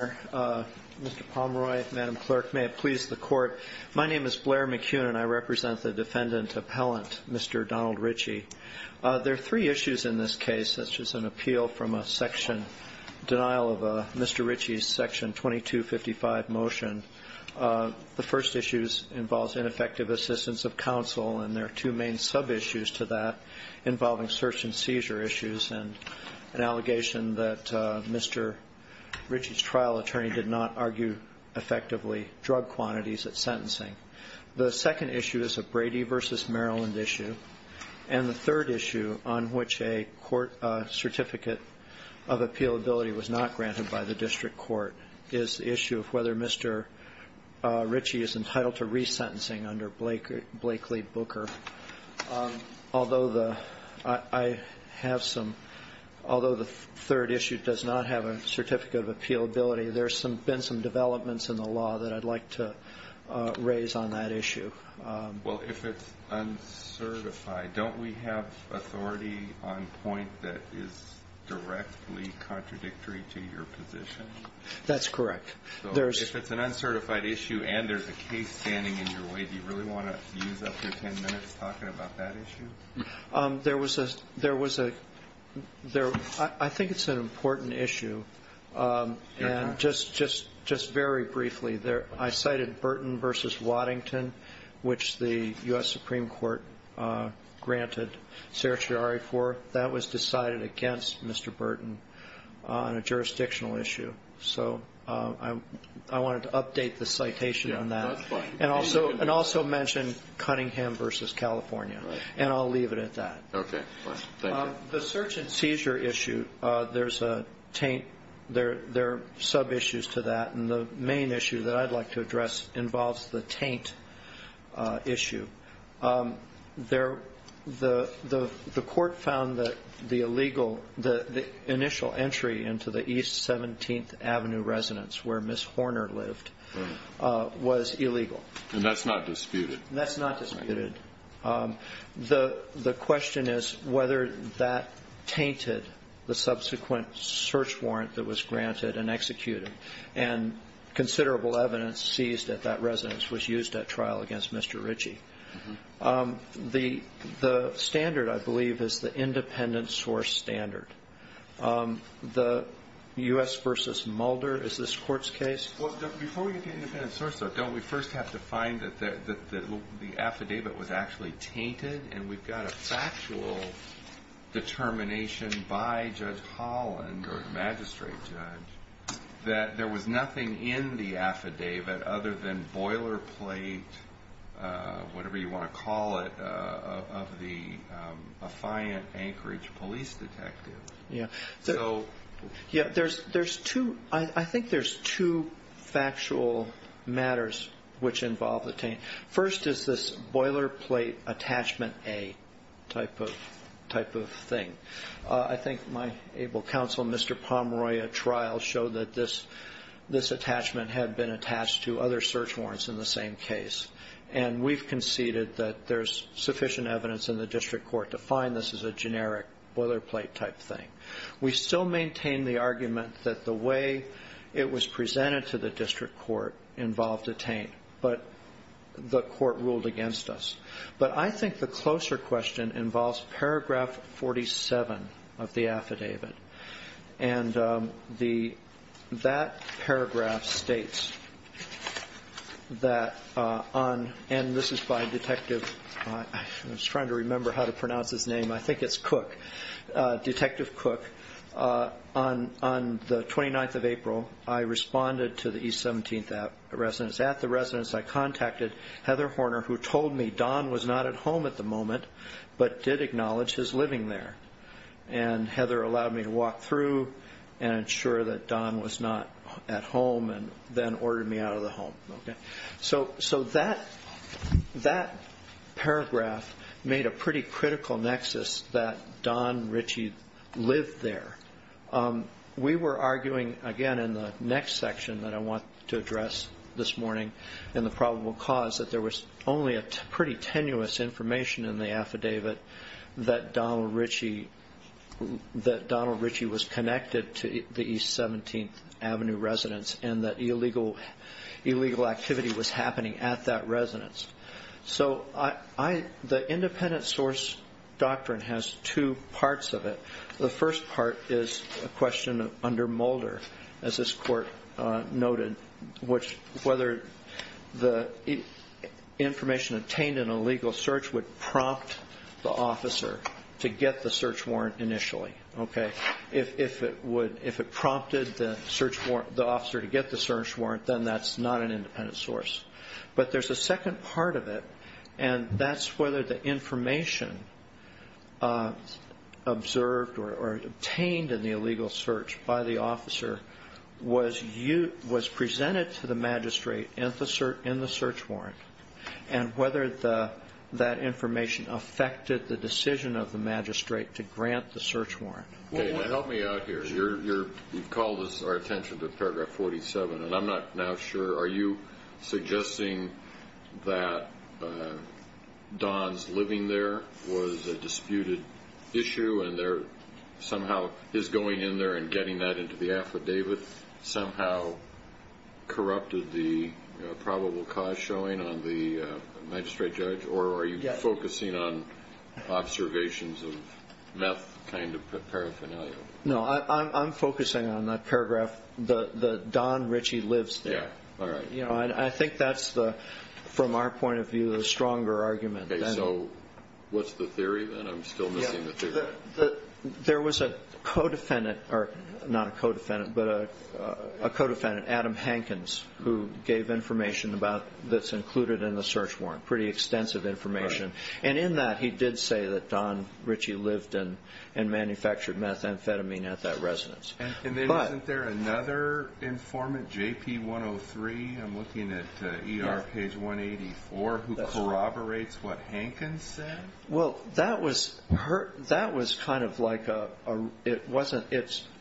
Mr. Pomeroy, Madam Clerk, may it please the Court, my name is Blair McKeown and I represent the defendant appellant, Mr. Donald Ritchie. There are three issues in this case, such as an appeal from a section, denial of Mr. Ritchie's section 2255 motion. The first issue involves ineffective assistance of counsel, and there are two main sub-issues to that involving search and seizure issues and an allegation that Mr. Ritchie's trial attorney did not argue effectively drug quantities at sentencing. The second issue is a Brady v. Maryland issue. And the third issue, on which a court certificate of appealability was not granted by the district court, is the issue of whether Mr. Ritchie is entitled to resentencing under Blakely Booker. Although the third issue does not have a certificate of appealability, there have been some developments in the law that I'd like to raise on that issue. Well, if it's uncertified, don't we have authority on point that is directly contradictory to your position? That's correct. So if it's an uncertified issue and there's a case standing in your way, do you really want to use up your ten minutes talking about that issue? There was a ‑‑ I think it's an important issue. And just very briefly, I cited Burton v. Waddington, which the U.S. Supreme Court granted certiorari for. That was decided against Mr. Burton on a jurisdictional issue. So I wanted to update the citation on that. And also mention Cunningham v. California. And I'll leave it at that. Okay. Thank you. The search and seizure issue, there's a taint. There are subissues to that. And the main issue that I'd like to address involves the taint issue. The court found that the illegal ‑‑ the initial entry into the East 17th Avenue residence where Ms. Horner lived was illegal. And that's not disputed? That's not disputed. The question is whether that tainted the subsequent search warrant that was granted and executed. And considerable evidence seized at that residence was used at trial against Mr. Ritchie. The standard, I believe, is the independent source standard. The U.S. v. Mulder, is this court's case? Well, before we get to independent source, though, don't we first have to find that the affidavit was actually tainted? And we've got a factual determination by Judge Holland, or the magistrate judge, that there was nothing in the affidavit other than boilerplate, whatever you want to call it, of the affiant Anchorage police detective. Yeah. So ‑‑ Yeah, there's two ‑‑ I think there's two factual matters which involve the taint. First is this boilerplate attachment A type of thing. I think my able counsel, Mr. Pomeroy, at trial showed that this attachment had been attached to other search warrants in the same case. And we've conceded that there's sufficient evidence in the district court to find this is a generic boilerplate type thing. We still maintain the argument that the way it was presented to the district court involved a taint. But the court ruled against us. But I think the closer question involves paragraph 47 of the affidavit. And that paragraph states that on ‑‑ and this is by Detective ‑‑ I was trying to remember how to pronounce his name. I think it's Cook, Detective Cook. On the 29th of April, I responded to the East 17th Residence. At the residence, I contacted Heather Horner, who told me Don was not at home at the moment, but did acknowledge his living there. And Heather allowed me to walk through and ensure that Don was not at home and then ordered me out of the home. So that paragraph made a pretty critical nexus that Don Ritchie lived there. We were arguing, again, in the next section that I want to address this morning in the probable cause, that there was only a pretty tenuous information in the affidavit that Don Ritchie was connected to the East 17th Avenue Residence and that illegal activity was happening at that residence. So the independent source doctrine has two parts of it. The first part is a question under Mulder, as this court noted, which whether the information obtained in a legal search would prompt the officer to get the search warrant initially. If it prompted the officer to get the search warrant, then that's not an independent source. But there's a second part of it, and that's whether the information observed or obtained in the illegal search by the officer was presented to the magistrate in the search warrant and whether that information affected the decision of the magistrate to grant the search warrant. Help me out here. You've called our attention to paragraph 47, and I'm not now sure. Are you suggesting that Don's living there was a disputed issue and somehow his going in there and getting that into the affidavit somehow corrupted the probable cause showing on the magistrate judge? Or are you focusing on observations of meth kind of paraphernalia? No, I'm focusing on that paragraph that Don Ritchie lives there. I think that's, from our point of view, the stronger argument. Okay, so what's the theory then? I'm still missing the theory. There was a co-defendant, or not a co-defendant, but a co-defendant, Adam Hankins, who gave information that's included in the search warrant, pretty extensive information. And in that, he did say that Don Ritchie lived and manufactured methamphetamine at that residence. And isn't there another informant, JP103, I'm looking at ER page 184, who corroborates what Hankins said? Well, that was kind of like a, it wasn't,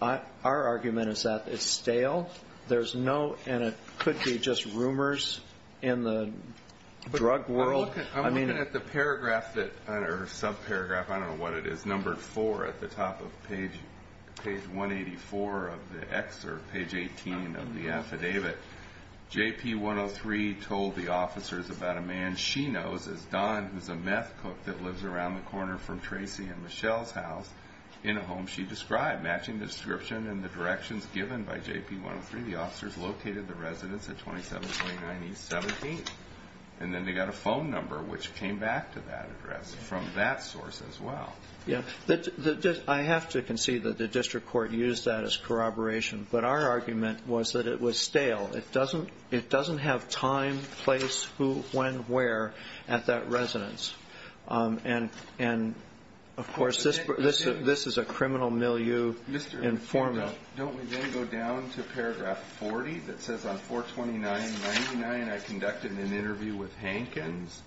our argument is that it's stale. There's no, and it could be just rumors in the drug world. I'm looking at the paragraph that, or subparagraph, I don't know what it is, numbered four at the top of page 184 of the excerpt, page 18 of the affidavit. JP103 told the officers about a man she knows as Don, who's a meth cook that lives around the corner from Tracy and Michelle's house, in a home she described. Matching description and the directions given by JP103, the officers located the residence at 2729 East 17th. And then they got a phone number, which came back to that address from that source as well. Yeah, I have to concede that the district court used that as corroboration, but our argument was that it was stale. It doesn't have time, place, who, when, where at that residence. And, of course, this is a criminal milieu informant. Don't we then go down to paragraph 40 that says on 429.99, I conducted an interview with Hankins,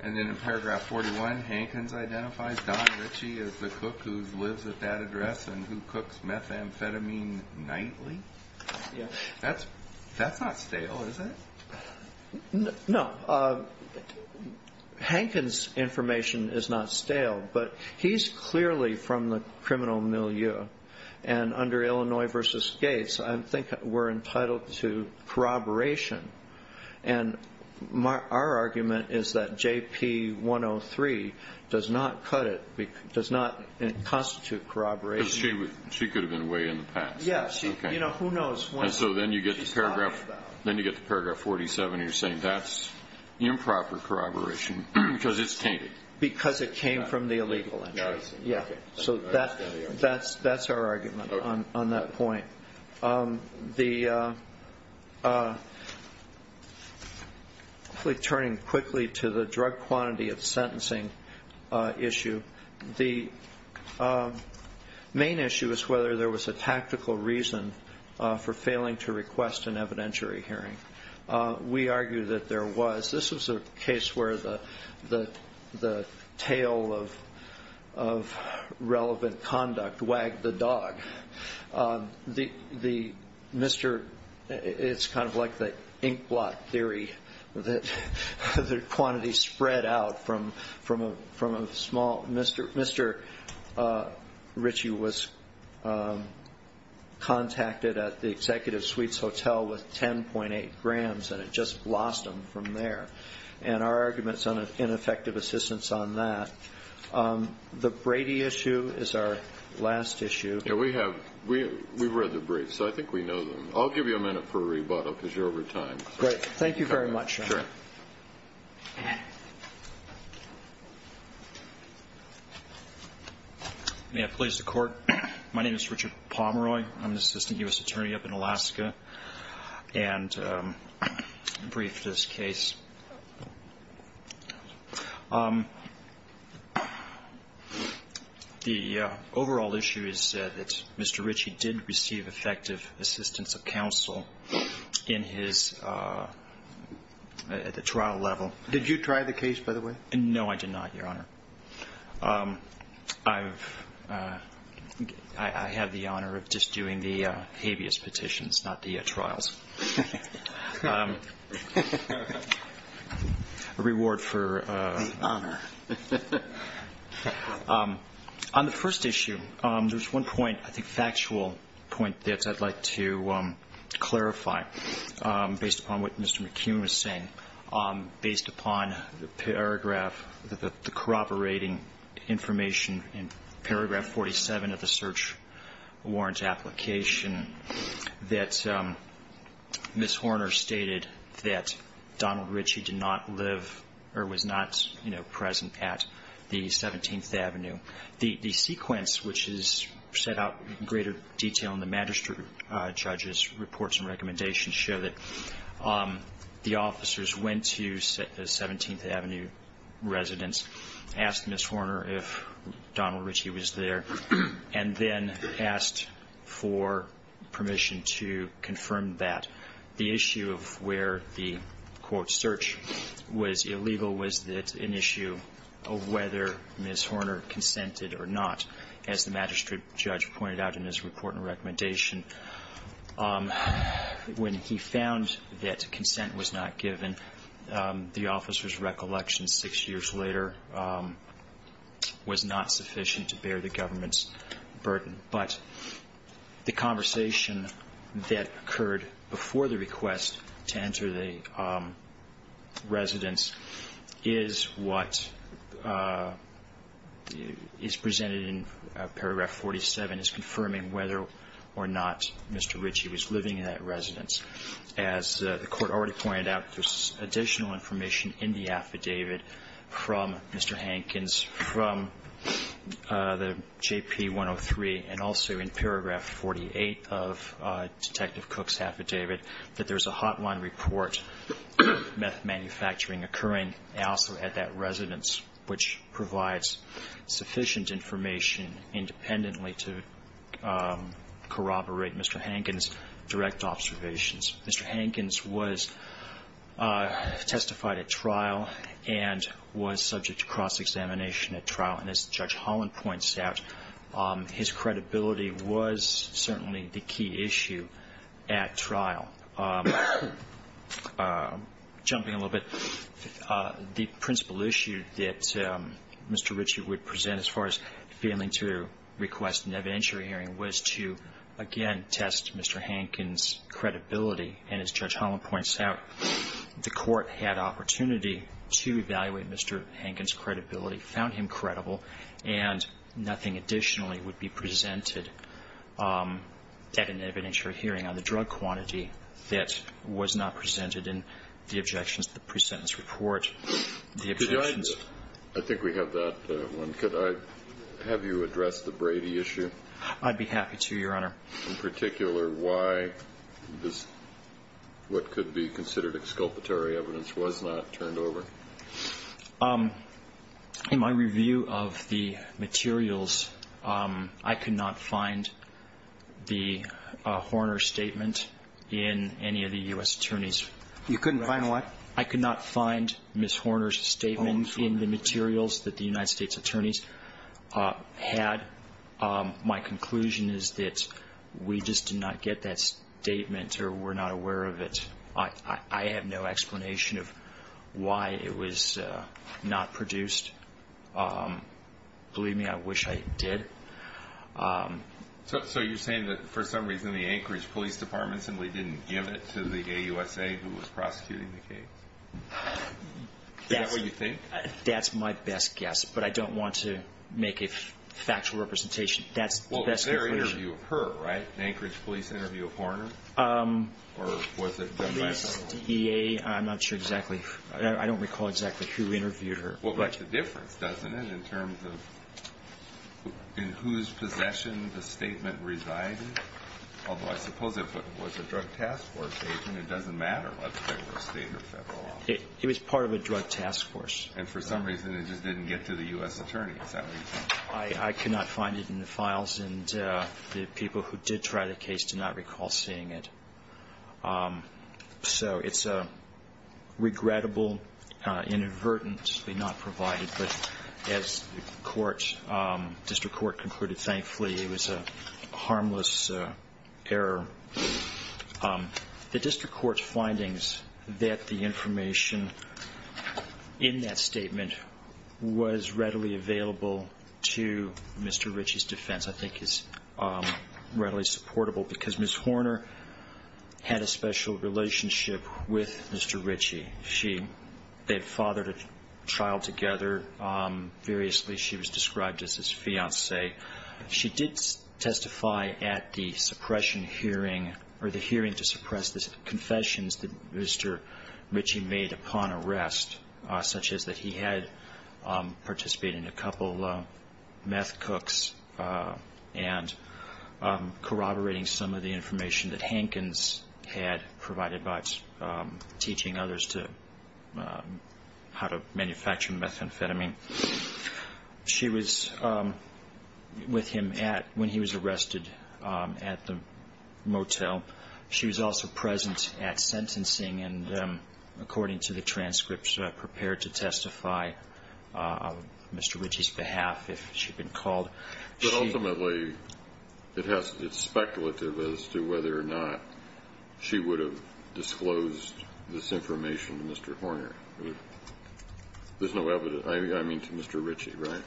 and then in paragraph 41, Hankins identifies Don Ritchie as the cook who lives at that address and who cooks methamphetamine nightly? That's not stale, is it? No. Hankins' information is not stale, but he's clearly from the criminal milieu. And under Illinois v. Gates, I think we're entitled to corroboration. And our argument is that JP103 does not cut it, does not constitute corroboration. Because she could have been away in the past. Yes. You know, who knows when she's gone. And so then you get to paragraph 47, and you're saying that's improper corroboration because it's tainted. Because it came from the illegal entry. So that's our argument on that point. Quickly turning quickly to the drug quantity of sentencing issue, the main issue is whether there was a tactical reason for failing to request an evidentiary hearing. We argue that there was. This was a case where the tale of relevant conduct wagged the dog. It's kind of like the inkblot theory that the quantity spread out from a small. Mr. Ritchie was contacted at the Executive Suites Hotel with 10.8 grams, and it just lost him from there. And our argument is on ineffective assistance on that. The Brady issue is our last issue. Yeah, we have. We've read the briefs, so I think we know them. I'll give you a minute for a rebuttal because you're over time. Great. Thank you very much. May I please the Court? My name is Richard Pomeroy. I'm an assistant U.S. attorney up in Alaska and briefed this case. The overall issue is that Mr. Ritchie did receive effective assistance of counsel in his at the trial level. Did you try the case, by the way? No, I did not, Your Honor. I have the honor of just doing the habeas petitions, not the trials. A reward for honor. On the first issue, there's one point, I think factual point, that I'd like to clarify based upon what Mr. McKeown was saying, based upon the paragraph, the corroborating information in paragraph 47 of the Ms. Horner stated that Donald Ritchie did not live or was not present at the 17th Avenue. The sequence which is set out in greater detail in the magistrate judge's reports and recommendations show that the officers went to the 17th Avenue residents, asked Ms. Horner if Donald Ritchie was there, and then asked for permission to confirm that. The issue of where the, quote, search was illegal was that an issue of whether Ms. Horner consented or not. As the magistrate judge pointed out in his report and recommendation, when he found that consent was not given, the officers' recollection six years later was not sufficient to bear the government's burden. But the conversation that occurred before the request to enter the residence is what is presented in paragraph 47, is confirming whether or not Mr. Ritchie was living in that residence. As the Court already pointed out, there's additional information in the affidavit from Mr. Hankins, from the JP103, and also in paragraph 48 of Detective Cook's affidavit, that there's a hotline report of meth manufacturing occurring also at that residence, which provides sufficient information independently to corroborate Mr. Hankins' direct observations. Mr. Hankins was testified at trial and was subject to cross-examination at trial. And as Judge Holland points out, his credibility was certainly the key issue at trial. Jumping a little bit, the principal issue that Mr. Ritchie would present as far as failing to request an evidentiary hearing was to, again, test Mr. Hankins' credibility. And as Judge Holland points out, the Court had opportunity to evaluate Mr. Hankins' credibility, found him credible, and nothing additionally would be presented at an evidentiary hearing on the drug quantity that was not presented in the objections to the pre-sentence report. The objections... I think we have that one. Could I have you address the Brady issue? I'd be happy to, Your Honor. In particular, why this, what could be considered exculpatory evidence, was not turned over? In my review of the materials, I could not find the Horner statement in any of the U.S. attorneys. You couldn't find what? I could not find Ms. Horner's statement in the materials that the United States attorneys had. My conclusion is that we just did not get that statement or were not aware of it. I have no explanation of why it was not produced. Believe me, I wish I did. So you're saying that, for some reason, the Anchorage Police Department simply didn't give it to the AUSA who was prosecuting the case? Is that what you think? That's my best guess, but I don't want to make a factual representation. That's the best conclusion. That was an interview of her, right? An Anchorage Police interview of Horner? Or was it the Federal Office? Police, EA, I'm not sure exactly. I don't recall exactly who interviewed her. Well, that's the difference, doesn't it, in terms of in whose possession the statement resided? Although I suppose if it was a Drug Task Force agent, it doesn't matter what type of state or federal office. It was part of a Drug Task Force. And for some reason, it just didn't get to the U.S. attorney. Is that what you think? I cannot find it in the files, and the people who did try the case do not recall seeing it. So it's a regrettable, inadvertently not provided. But as the District Court concluded, thankfully, it was a harmless error. The District Court's findings that the information in that statement was readily available to Mr. Ritchie's defense I think is readily supportable, because Ms. Horner had a special relationship with Mr. Ritchie. They had fathered a child together. Variously, she was described as his fiancée. She did testify at the suppression hearing, or the hearing to suppress the confessions that Mr. Ritchie made upon arrest, such as that he had participated in a couple meth cooks and corroborating some of the information that Hankins had provided by teaching others how to manufacture methamphetamine. She was with him when he was arrested at the motel. She was also present at sentencing, and according to the transcripts, prepared to testify on Mr. Ritchie's behalf if she'd been called. But ultimately, it's speculative as to whether or not she would have disclosed this information to Mr. Horner. There's no evidence. I mean to Mr. Ritchie, right?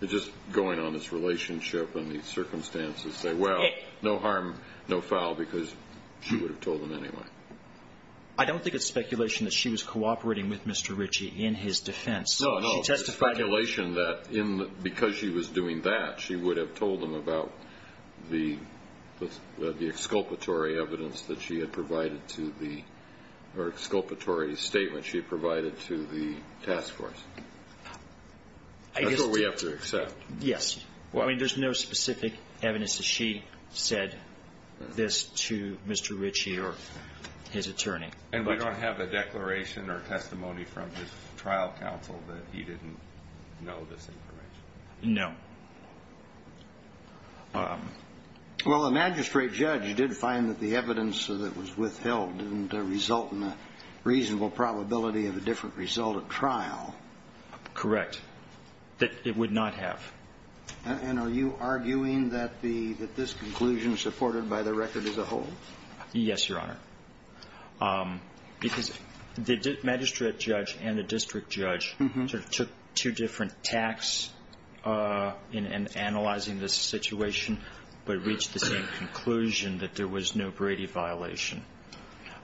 They're just going on this relationship and these circumstances. They say, well, no harm, no foul, because she would have told him anyway. I don't think it's speculation that she was cooperating with Mr. Ritchie in his defense. No, no, it's speculation that because she was doing that, she would have told him about the exculpatory evidence that she had provided to the or exculpatory statement she had provided to the task force. That's what we have to accept. Yes. I mean, there's no specific evidence that she said this to Mr. Ritchie or his attorney. And we don't have a declaration or testimony from his trial counsel that he didn't know this information? No. Well, the magistrate judge did find that the evidence that was withheld didn't result in a reasonable probability of a different result at trial. Correct. That it would not have. And are you arguing that this conclusion is supported by the record as a whole? Yes, Your Honor. Because the magistrate judge and the district judge sort of took two different tacks in analyzing this situation, but reached the same conclusion that there was no Brady violation,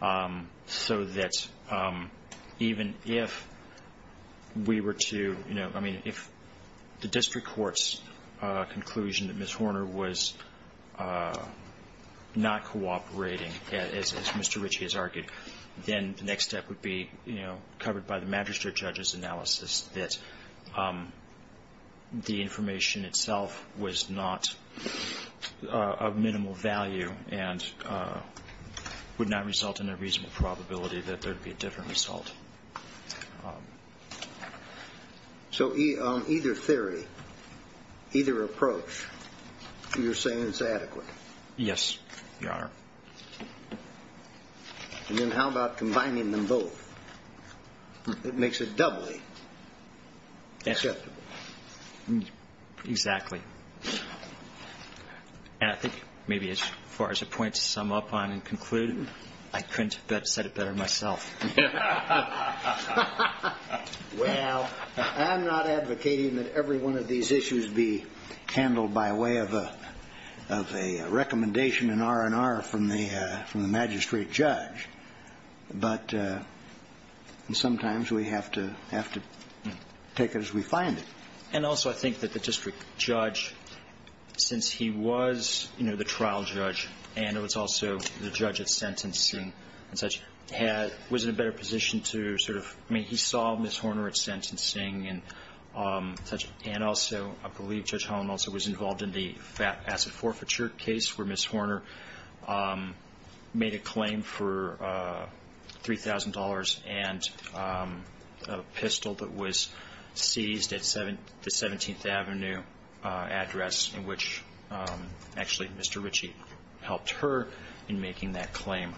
so that even if we were to, you know, then the next step would be, you know, covered by the magistrate judge's analysis that the information itself was not of minimal value and would not result in a reasonable probability that there would be a different result. So on either theory, either approach, you're saying it's adequate? Yes, Your Honor. And then how about combining them both? It makes it doubly acceptable. Exactly. And I think maybe as far as a point to sum up on and conclude, I couldn't have said it better myself. Well, I'm not advocating that every one of these issues be handled by way of a recommendation in R&R from the magistrate judge, but sometimes we have to take it as we find it. And also I think that the district judge, since he was, you know, the trial judge, and it was also the judge at sentencing and such, was in a better position to sort of, I mean, he saw Ms. Horner at sentencing and such, and also I believe Judge Holland also was involved in the asset forfeiture case where Ms. Horner made a claim for $3,000 and a pistol that was seized at the 17th Avenue address, in which actually Mr. Ritchie helped her in making that claim.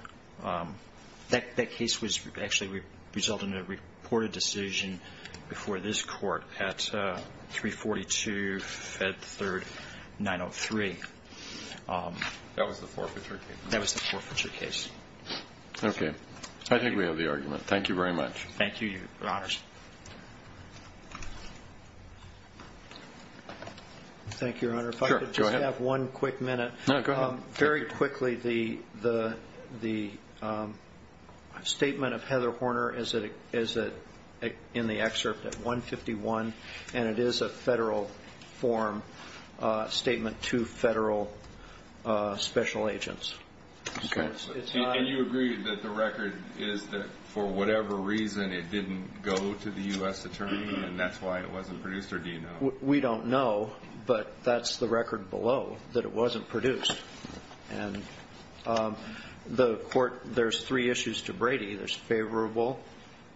That case actually resulted in a reported decision before this Court at 342 Fed 3rd 903. That was the forfeiture case? That was the forfeiture case. Okay. I think we have the argument. Thank you very much. Thank you, Your Honors. Thank you, Your Honor. Sure, go ahead. If I could just have one quick minute. No, go ahead. Very quickly, the statement of Heather Horner is in the excerpt at 151, and it is a federal form statement to federal special agents. Okay. And you agree that the record is that for whatever reason it didn't go to the U.S. Attorney and that's why it wasn't produced, or do you know? We don't know, but that's the record below, that it wasn't produced. And the Court, there's three issues to Brady. There's favorable,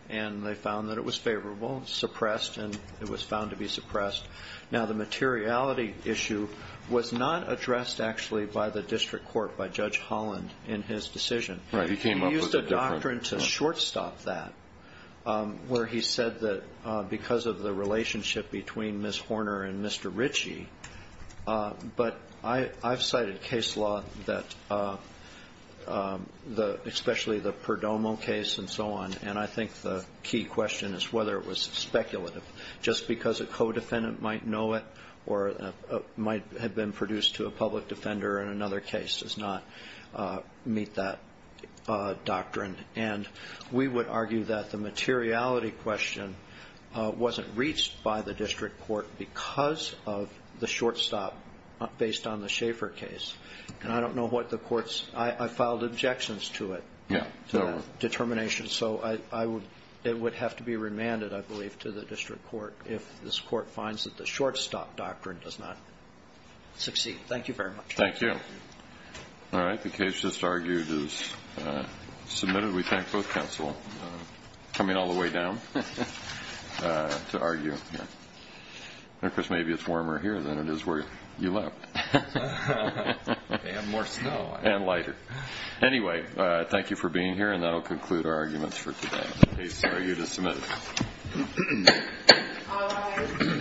and they found that it was favorable. Suppressed, and it was found to be suppressed. Now, the materiality issue was not addressed, actually, by the district court, by Judge Holland, in his decision. Right. He came up with a different. He used a doctrine to shortstop that, where he said that because of the relationship between Ms. Horner and Mr. Ritchie, but I've cited case law, especially the Perdomo case and so on, and I think the key question is whether it was speculative. Just because a co-defendant might know it or might have been produced to a public defender in another case does not meet that doctrine. And we would argue that the materiality question wasn't reached by the district court because of the shortstop based on the Schaefer case. And I don't know what the court's – I filed objections to it, to that determination. So I would – it would have to be remanded, I believe, to the district court if this court finds that the shortstop doctrine does not succeed. Thank you very much. Thank you. All right. The case just argued is submitted. We thank both counsel for coming all the way down to argue. Of course, maybe it's warmer here than it is where you live. And more snow. And lighter. Anyway, thank you for being here, and that will conclude our arguments for today. The case argued is submitted.